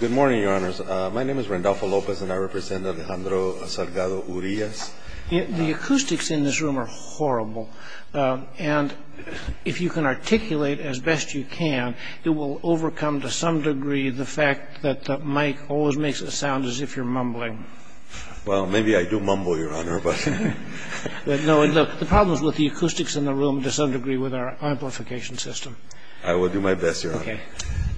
Good morning, your honors. My name is Randolpho Lopez and I represent Alejandro Salgado-Urias. The acoustics in this room are horrible and if you can articulate as best you can, it will overcome to some degree the fact that the mic always makes it sound as if you're mumbling. Well, maybe I do mumble, your honor, but... No, the problem is with the acoustics in the room to some degree with our amplification system. I will do my best, your honor.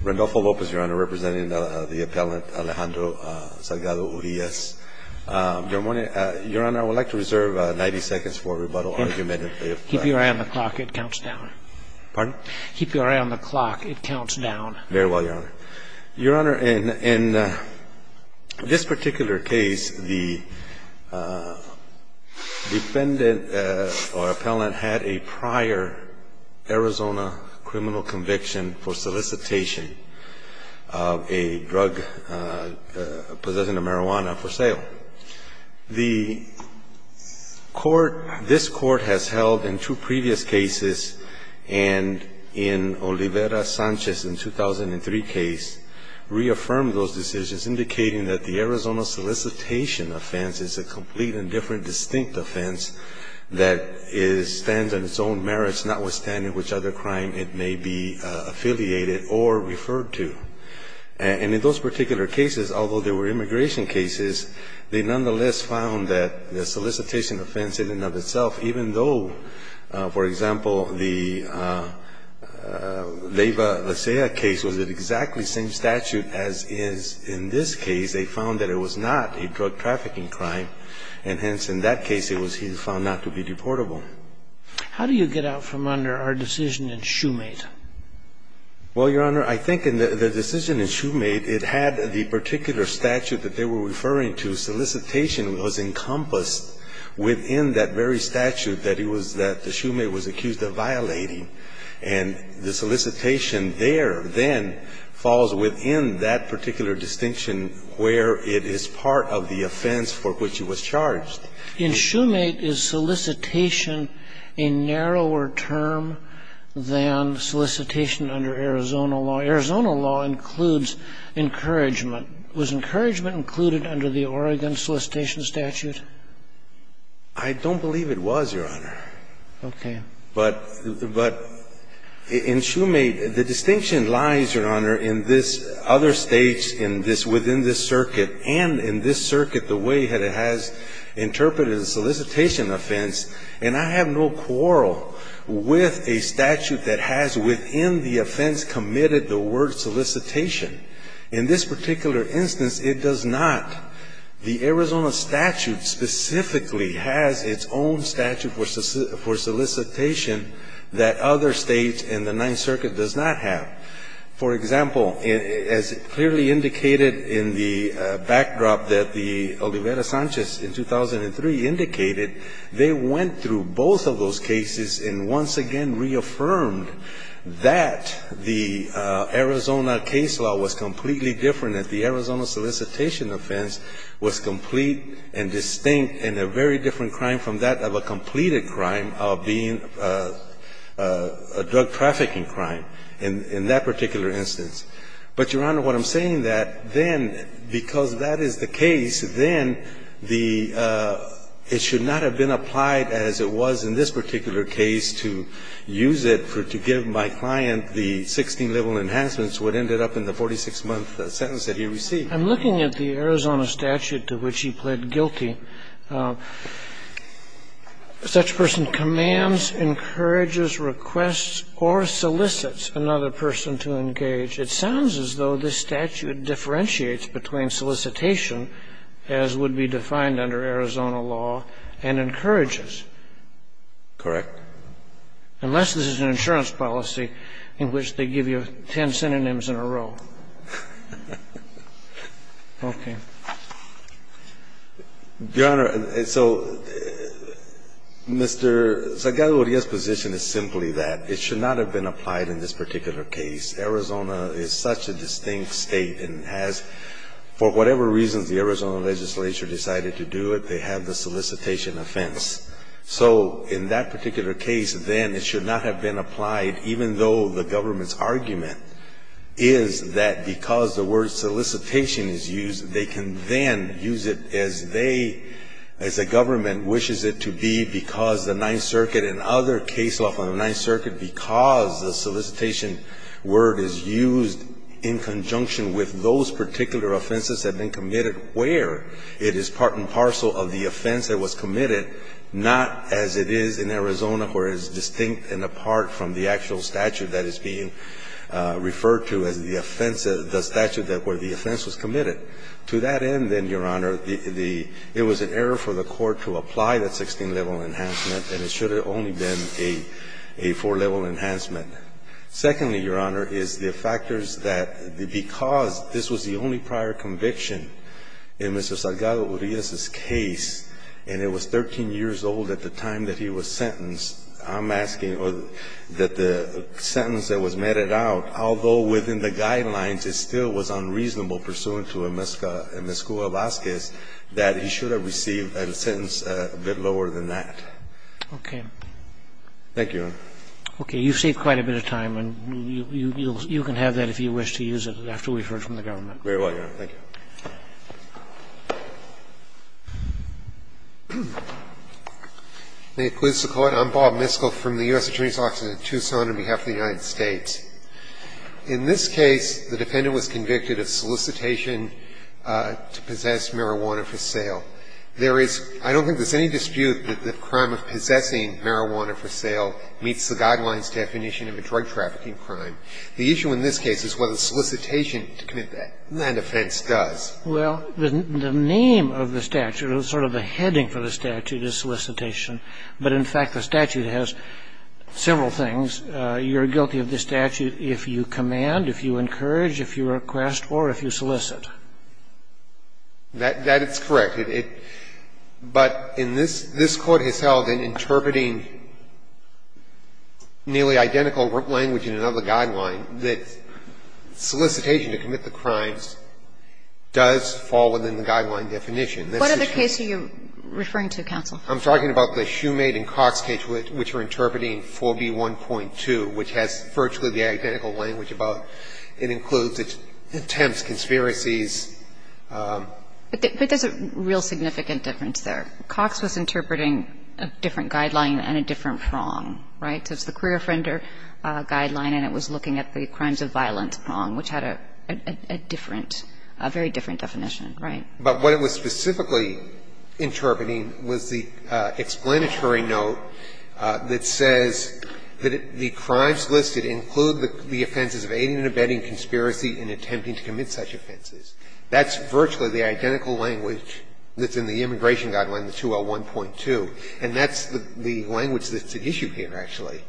Randolpho Lopez, your honor, representing the appellant Alejandro Salgado-Urias. Your honor, I would like to reserve 90 seconds for a rebuttal argument. Keep your eye on the clock. It counts down. Pardon? Keep your eye on the clock. It counts down. Very well, your honor. Your honor, in this particular case, the defendant or appellant had a prior Arizona criminal conviction for solicitation of a drug possessing a marijuana for sale. The court, this court has held in two previous cases and in Olivera-Sanchez in 2003 case, reaffirmed those decisions indicating that the Arizona solicitation offense is a complete and different distinct offense that stands on its own merits notwithstanding which other crime it may be affiliated or referred to. And in those particular cases, although they were immigration cases, they nonetheless found that the solicitation offense in and of itself, even though, for example, the Leyva-Lasea case was in exactly the same statute as is in this case, they found that it was not a drug trafficking crime. And hence, in that case, it was found not to be deportable. How do you get out from under our decision and shoemade? Well, your honor, I think in the decision in shoemade, it had the particular statute that they were referring to. Solicitation was encompassed within that very statute that it was that the shoemade was accused of violating. And the solicitation there then falls within that particular distinction where it is part of the offense for which it was charged. In shoemade, is solicitation a narrower term than solicitation under Arizona law? Arizona law includes encouragement. Was encouragement included under the Oregon solicitation statute? I don't believe it was, your honor. Okay. But in shoemade, the distinction lies, your honor, in this other states, in this within this circuit, and in this circuit the way that it has interpreted the solicitation offense, and I have no quarrel with a statute that has within the offense committed the word solicitation. In this particular instance, it does not. The Arizona statute specifically has its own statute for solicitation that other states in the Ninth Circuit does not have. For example, as clearly indicated in the backdrop that the Olivera Sanchez in 2003 indicated, they went through both of those cases and once again reaffirmed that the Arizona case law was completely different, that the Arizona solicitation offense was complete and distinct and a very different crime from that of a completed crime of being a drug trafficking crime. In that particular instance. But, your honor, what I'm saying that then, because that is the case, then the – it should not have been applied as it was in this particular case to use it to give my client the 16-level enhancements, what ended up in the 46-month sentence that he received. I'm looking at the Arizona statute to which he pled guilty. Such a person commands, encourages, requests, or solicits another person to engage. It sounds as though this statute differentiates between solicitation, as would be defined under Arizona law, and encourages. Correct. Unless this is an insurance policy in which they give you ten synonyms in a row. Okay. Your honor, so Mr. Zagalia's position is simply that it should not have been applied in this particular case. Arizona is such a distinct State and has, for whatever reasons the Arizona legislature decided to do it, they have the solicitation offense. So in that particular case, then, it should not have been applied, even though the solicitation is used, they can then use it as they, as the government wishes it to be because the Ninth Circuit and other case law from the Ninth Circuit, because the solicitation word is used in conjunction with those particular offenses that have been committed where it is part and parcel of the offense that was committed, not as it is in Arizona where it is distinct and apart from the actual statute that is being referred to as the offense, the statute where the offense was committed. To that end, then, Your Honor, the, it was an error for the Court to apply that 16-level enhancement, and it should have only been a four-level enhancement. Secondly, Your Honor, is the factors that, because this was the only prior conviction in Mr. Salgado Urias's case and it was 13 years old at the time that he was sentenced, I'm asking that the sentence that was meted out, although within the guidelines it still was unreasonable pursuant to a mesca, a mescua vazquez, that he should have received a sentence a bit lower than that. Okay. Thank you, Your Honor. Okay. You've saved quite a bit of time, and you can have that if you wish to use it after we've heard from the government. Very well, Your Honor. Thank you. May it please the Court. I'm Bob Miskell from the U.S. Attorney's Office in Tucson on behalf of the United States. In this case, the defendant was convicted of solicitation to possess marijuana for sale. There is, I don't think there's any dispute that the crime of possessing marijuana for sale meets the guidelines definition of a drug trafficking crime. The issue in this case is whether solicitation to commit that. And offense does. Well, the name of the statute, or sort of the heading for the statute, is solicitation. But, in fact, the statute has several things. You're guilty of the statute if you command, if you encourage, if you request, or if you solicit. That is correct. But in this, this Court has held in interpreting nearly identical language in another case. In this case, the offense does fall within the guideline definition. What other case are you referring to, counsel? I'm talking about the Shoemade and Cox case, which are interpreting 4B1.2, which has virtually the identical language about it includes attempts, conspiracies. But there's a real significant difference there. Cox was interpreting a different guideline and a different prong, right? So it's the career offender guideline, and it was looking at the crimes of violence prong, which had a different, a very different definition, right? But what it was specifically interpreting was the explanatory note that says that the crimes listed include the offenses of aiding and abetting conspiracy and attempting to commit such offenses. That's virtually the identical language that's in the immigration guideline, the 201.2. And that's the language that's at issue here, actually.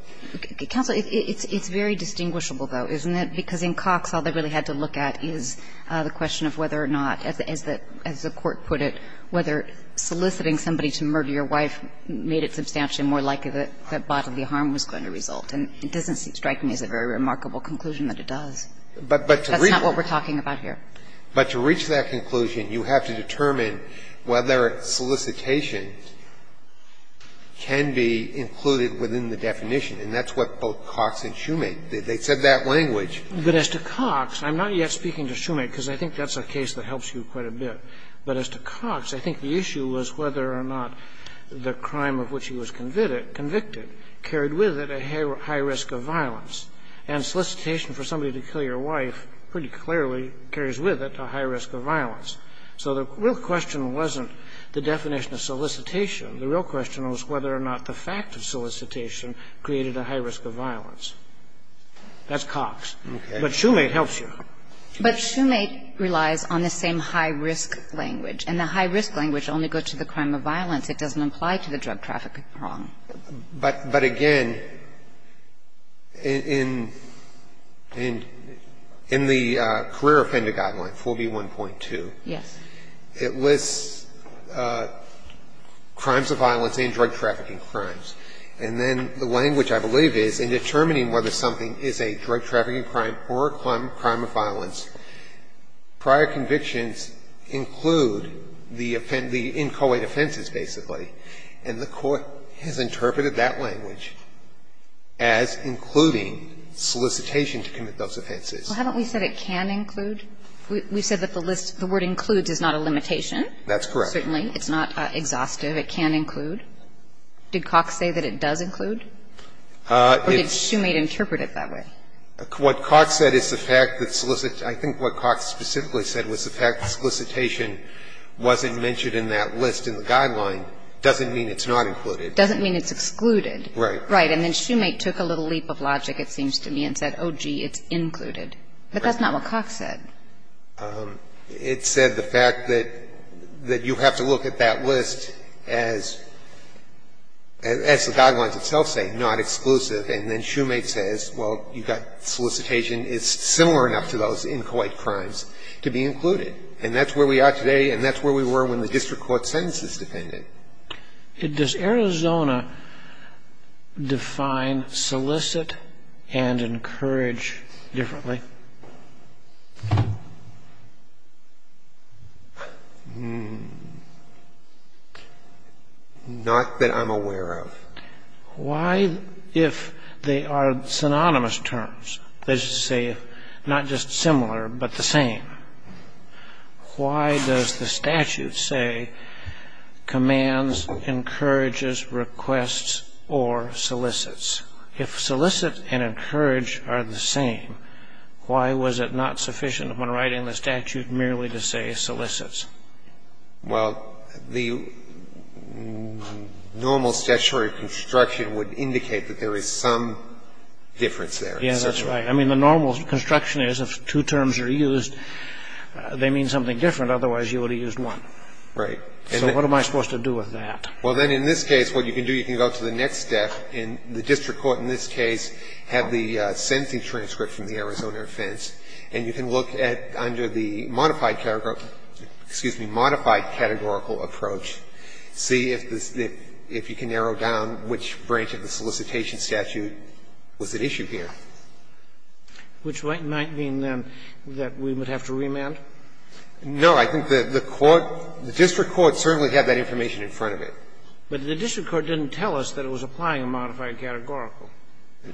Counsel, it's very distinguishable, though, isn't it? Because in Cox, all they really had to look at is the question of whether or not, as the Court put it, whether soliciting somebody to murder your wife made it substantially more likely that bodily harm was going to result. And it doesn't strike me as a very remarkable conclusion that it does. That's not what we're talking about here. But to reach that conclusion, you have to determine whether solicitation can be included within the definition. And that's what both Cox and Shoemake, they said that language. But as to Cox, I'm not yet speaking to Shoemake, because I think that's a case that helps you quite a bit. But as to Cox, I think the issue was whether or not the crime of which he was convicted carried with it a high risk of violence. And solicitation for somebody to kill your wife pretty clearly carries with it a high risk of violence. So the real question wasn't the definition of solicitation. The real question was whether or not the fact of solicitation created a high risk of violence. That's Cox. But Shoemake helps you. But Shoemake relies on the same high-risk language. And the high-risk language only goes to the crime of violence. It doesn't apply to the drug traffic wrong. But again, in the career offender guideline, 4B1.2. Yes. It lists crimes of violence and drug trafficking crimes. And then the language, I believe, is in determining whether something is a drug trafficking crime or a crime of violence, prior convictions include the inchoate offenses, basically. And the Court has interpreted that language as including solicitation to commit those offenses. Well, haven't we said it can include? We've said that the list, the word includes is not a limitation. That's correct. Certainly. It's not exhaustive. It can include. Did Cox say that it does include? Or did Shoemake interpret it that way? What Cox said is the fact that solicitation, I think what Cox specifically said was the fact that solicitation wasn't mentioned in that list in the guideline doesn't mean it's not included. Doesn't mean it's excluded. Right. Right. And then Shoemake took a little leap of logic, it seems to me, and said, oh, gee, it's included. But that's not what Cox said. It said the fact that you have to look at that list as the guidelines itself say, not exclusive, and then Shoemake says, well, you've got solicitation is similar enough to those inchoate crimes to be included. And that's where we are today, and that's where we were when the district court sentences defended. Does Arizona define solicit and encourage differently? Not that I'm aware of. Why, if they are synonymous terms, let's just say not just similar but the same, why does the statute say commands, encourages, requests, or solicits? If solicit and encourage are the same, why was it not sufficient when writing the statute merely to say solicits? Well, the normal statutory construction would indicate that there is some difference there. Yes, that's right. I mean, the normal construction is if two terms are used, they mean something different. Otherwise, you would have used one. Right. So what am I supposed to do with that? Well, then, in this case, what you can do, you can go to the next step. And the district court in this case had the sentencing transcript from the Arizona offense, and you can look at under the modified categorical approach, see if you can narrow down which branch of the solicitation statute was at issue here. Which might mean, then, that we would have to remand? No. I think the court, the district court certainly had that information in front of it. But the district court didn't tell us that it was applying a modified categorical.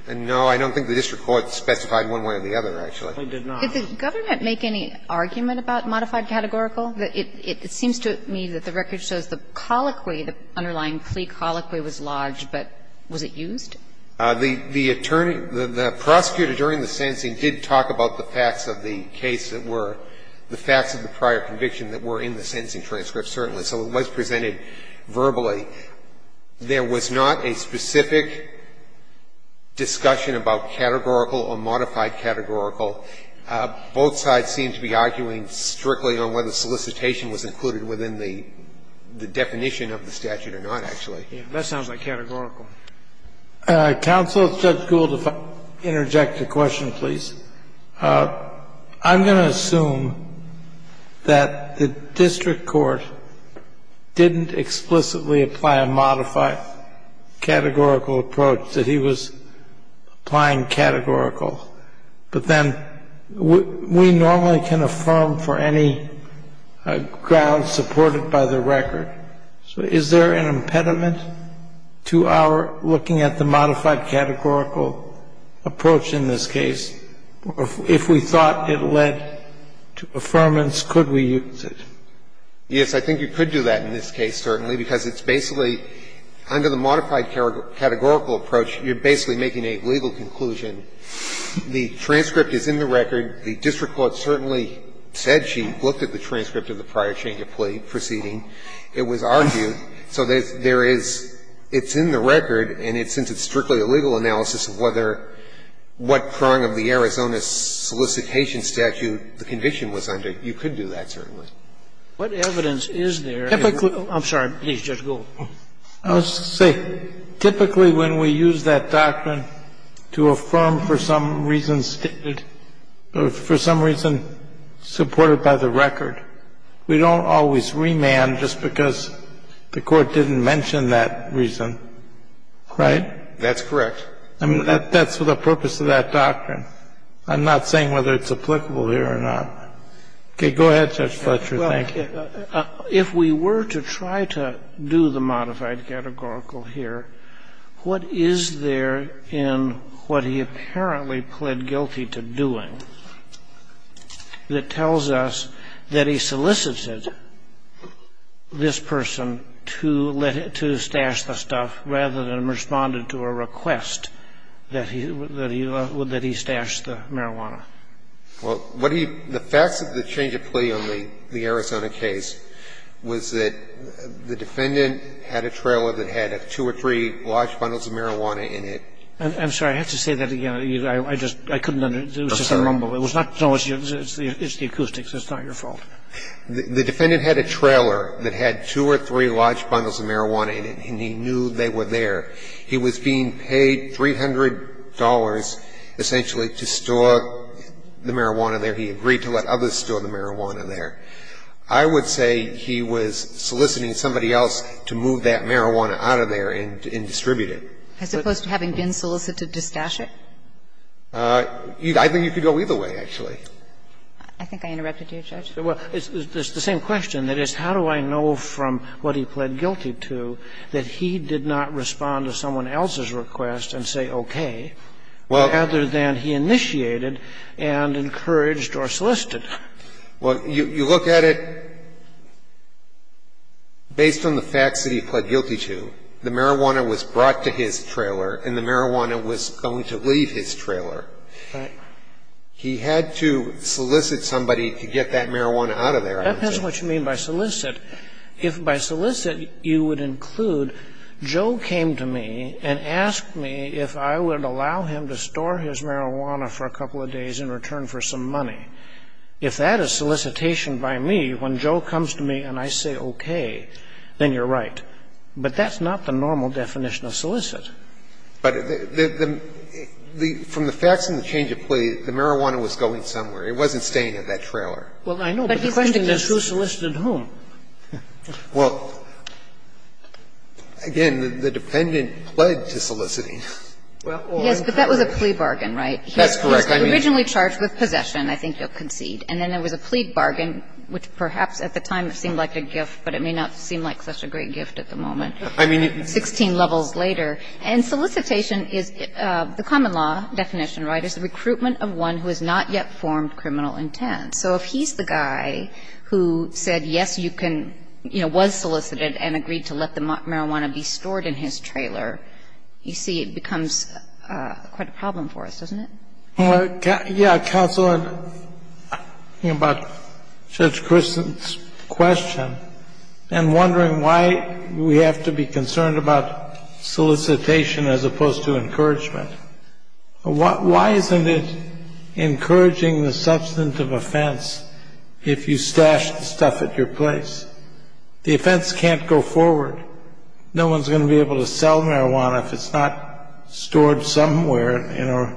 No. I don't think the district court specified one way or the other, actually. It did not. Did the government make any argument about modified categorical? It seems to me that the record shows the colloquy, the underlying plea colloquy was lodged, but was it used? The attorney, the prosecutor during the sentencing did talk about the facts of the case that were, the facts of the prior conviction that were in the sentencing transcript, certainly. So it was presented verbally. There was not a specific discussion about categorical or modified categorical. Both sides seem to be arguing strictly on whether solicitation was included within the definition of the statute or not, actually. That sounds like categorical. Counsel, if Judge Gould will interject a question, please. I'm going to assume that the district court didn't explicitly apply a modified categorical approach, that he was applying categorical. But then we normally can affirm for any grounds supported by the record. So is there an impediment to our looking at the modified categorical approach in this case? If we thought it led to affirmance, could we use it? Yes, I think you could do that in this case, certainly, because it's basically under the modified categorical approach, you're basically making a legal conclusion. The transcript is in the record. The district court certainly said she looked at the transcript of the prior change of plea proceeding. It was argued. So there is – it's in the record, and since it's strictly a legal analysis of whether – what prong of the Arizona solicitation statute the conviction was under, you could do that, certainly. What evidence is there? Typically – I'm sorry. Please, Judge Gould. Let's see. Typically, when we use that doctrine to affirm for some reason stated – for some reason supported by the record, we don't always remand just because the court didn't mention that reason, right? That's correct. That's for the purpose of that doctrine. I'm not saying whether it's applicable here or not. Okay. Go ahead, Judge Fletcher. Thank you. Well, if we were to try to do the modified categorical here, what is there in what he apparently pled guilty to doing that tells us that he solicited this person to let him – to stash the stuff rather than responded to a request that he – that he stashed the marijuana? Well, what he – the facts of the change of plea on the Arizona case was that the defendant had a trailer that had two or three large bundles of marijuana in it. I'm sorry. I have to say that again. I just – I couldn't understand. It was just a rumble. It was not – it's the acoustics. It's not your fault. The defendant had a trailer that had two or three large bundles of marijuana in it, and he knew they were there. He was being paid $300 essentially to store the marijuana there. He agreed to let others store the marijuana there. I would say he was soliciting somebody else to move that marijuana out of there and distribute it. As opposed to having been solicited to stash it? I think you could go either way, actually. I think I interrupted you, Judge. Well, it's the same question. That is, how do I know from what he pled guilty to that he did not respond to someone else's request and say okay, rather than he initiated and encouraged or solicited? Well, you look at it based on the facts that he pled guilty to. The marijuana was brought to his trailer, and the marijuana was going to leave his trailer. Right. He had to solicit somebody to get that marijuana out of there. That depends on what you mean by solicit. If by solicit you would include Joe came to me and asked me if I would allow him to store his marijuana for a couple of days in return for some money, if that is solicitation by me, when Joe comes to me and I say okay, then you're right. But that's not the normal definition of solicit. But the – from the facts and the change of plea, the marijuana was going somewhere. It wasn't staying at that trailer. Well, I know, but the question is who solicited whom? Well, again, the defendant pled to soliciting. Yes, but that was a plea bargain, right? That's correct. He was originally charged with possession. I think you'll concede. And then there was a plea bargain, which perhaps at the time seemed like a gift, but it may not seem like such a great gift at the moment, 16 levels later. And solicitation is – the common law definition, right, is the recruitment of one who has not yet formed criminal intent. So if he's the guy who said yes, you can – you know, was solicited and agreed to let the marijuana be stored in his trailer, you see it becomes quite a problem for us, doesn't it? Well, yeah, counsel, I'm thinking about Judge Christen's question and wondering why we have to be concerned about solicitation as opposed to encouragement. Why isn't it encouraging the substantive offense if you stash the stuff at your place? The offense can't go forward. No one's going to be able to sell marijuana if it's not stored somewhere in a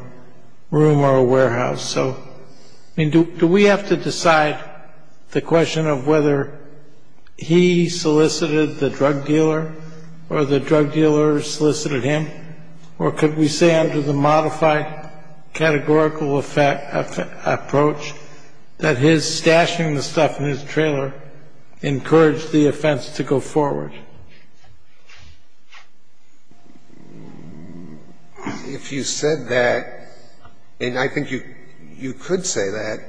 room or a warehouse. So, I mean, do we have to decide the question of whether he solicited the drug dealer or the drug dealer solicited him? Or could we say under the modified categorical approach that his stashing the stuff in his trailer encouraged the offense to go forward? If you said that, and I think you could say that,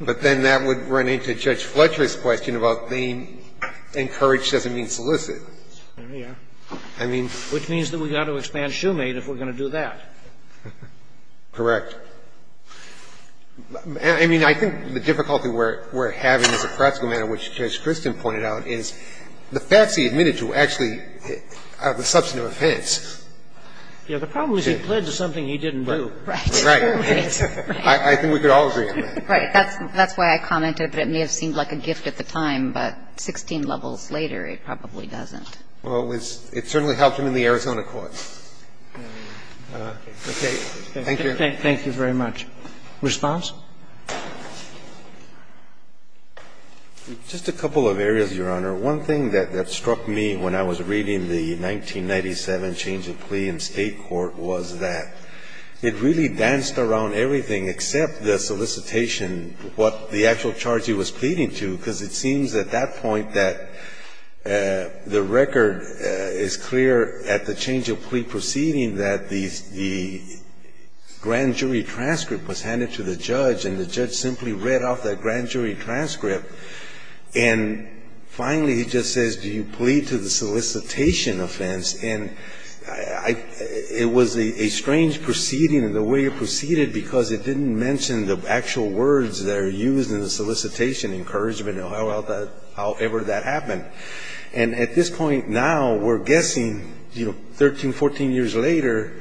but then that would run into Judge Fletcher's question about being encouraged doesn't mean solicit. There you are. I mean – Which means that we've got to expand Shoemade if we're going to do that. Correct. I mean, I think the difficulty we're having as a practical matter, which Judge Christen pointed out, is the facts he admitted to actually are the substantive offense. Yeah. The problem is he pled to something he didn't do. Right. Right. I think we could all agree on that. Right. That's why I commented that it may have seemed like a gift at the time, but 16 levels later it probably doesn't. Well, it certainly helped him in the Arizona court. Okay. Thank you. Thank you very much. Response? Just a couple of areas, Your Honor. One thing that struck me when I was reading the 1997 change of plea in State court was that it really danced around everything except the solicitation, what the actual charge he was pleading to, because it seems at that point that the record is clear at the change of plea proceeding that the grand jury transcript was handed to the judge, and the judge simply read off that grand jury transcript, and finally he just says, do you plead to the solicitation offense? And it was a strange proceeding, the way it proceeded, because it didn't mention the actual words that are used in the solicitation, encouragement or however that happened. And at this point now, we're guessing, you know, 13, 14 years later,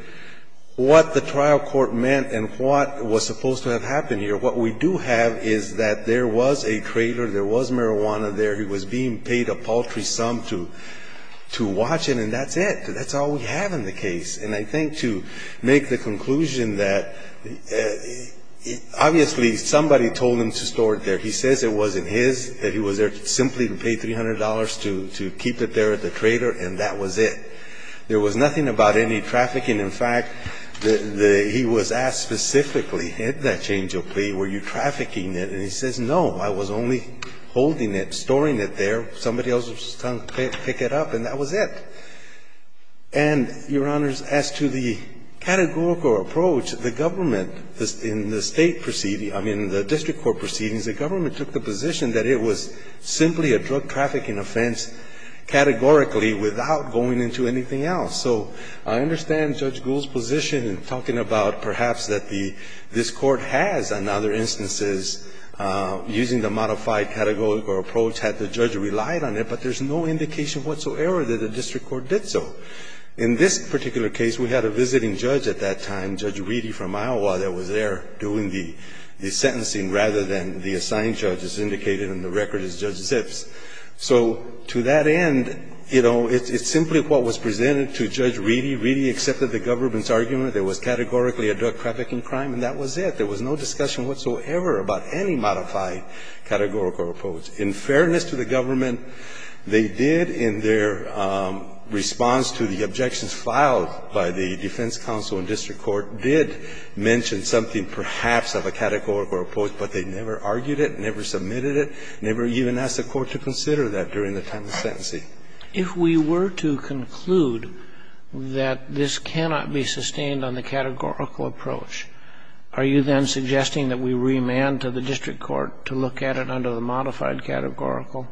what the trial court meant and what was supposed to have happened here. What we do have is that there was a trailer, there was marijuana there, he was being paid a paltry sum to watch it, and that's it. That's all we have in the case. And I think to make the conclusion that obviously somebody told him to store it there. He says it wasn't his, that he was there simply to pay $300 to keep it there at the trailer, and that was it. There was nothing about any trafficking. In fact, he was asked specifically, at that change of plea, were you trafficking it? And he says, no, I was only holding it, storing it there. Somebody else was trying to pick it up, and that was it. And, Your Honors, as to the categorical approach, the government in the State proceeding the district court proceedings, the government took the position that it was simply a drug trafficking offense categorically without going into anything else. So I understand Judge Gould's position in talking about perhaps that the, this court has, in other instances, using the modified categorical approach, had the judge relied on it, but there's no indication whatsoever that the district court did so. In this particular case, we had a visiting judge at that time, Judge Reedy from Iowa that was there doing the sentencing rather than the assigned judge as indicated in the record as Judge Zips. So to that end, you know, it's simply what was presented to Judge Reedy. Reedy accepted the government's argument that it was categorically a drug trafficking crime, and that was it. There was no discussion whatsoever about any modified categorical approach. In fairness to the government, they did in their response to the objections filed by the defense counsel and district court did mention something perhaps of a categorical approach, but they never argued it, never submitted it, never even asked the court to consider that during the time of sentencing. If we were to conclude that this cannot be sustained on the categorical approach, are you then suggesting that we remand to the district court to look at it under the modified categorical?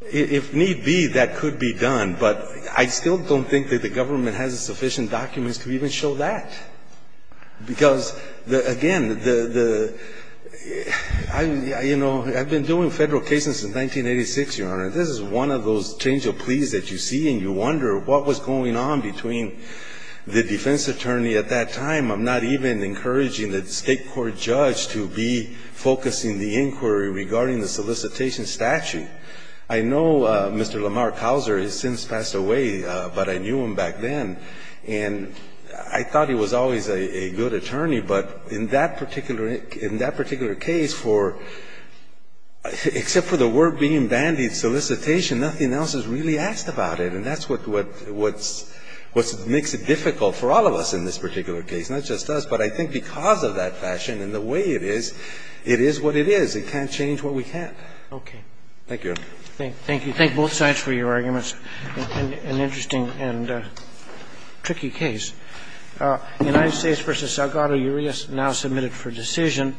If need be, that could be done. But I still don't think that the government has sufficient documents to even show that. Because, again, the, you know, I've been doing Federal cases since 1986, Your Honor. This is one of those change of pleas that you see and you wonder what was going on between the defense attorney at that time. I'm not even encouraging the state court judge to be focusing the inquiry regarding the solicitation statute. I know Mr. Lamar Couser has since passed away, but I knew him back then. And I thought he was always a good attorney. But in that particular case, except for the word being bandied, solicitation, nothing else is really asked about it. And that's what makes it difficult for all of us in this particular case, not just us. But I think because of that fashion and the way it is, it is what it is. It can't change what we can't. Okay. Thank you, Your Honor. Thank you. Thank both sides for your arguments. An interesting and tricky case. United States v. Salgado, you are now submitted for decision.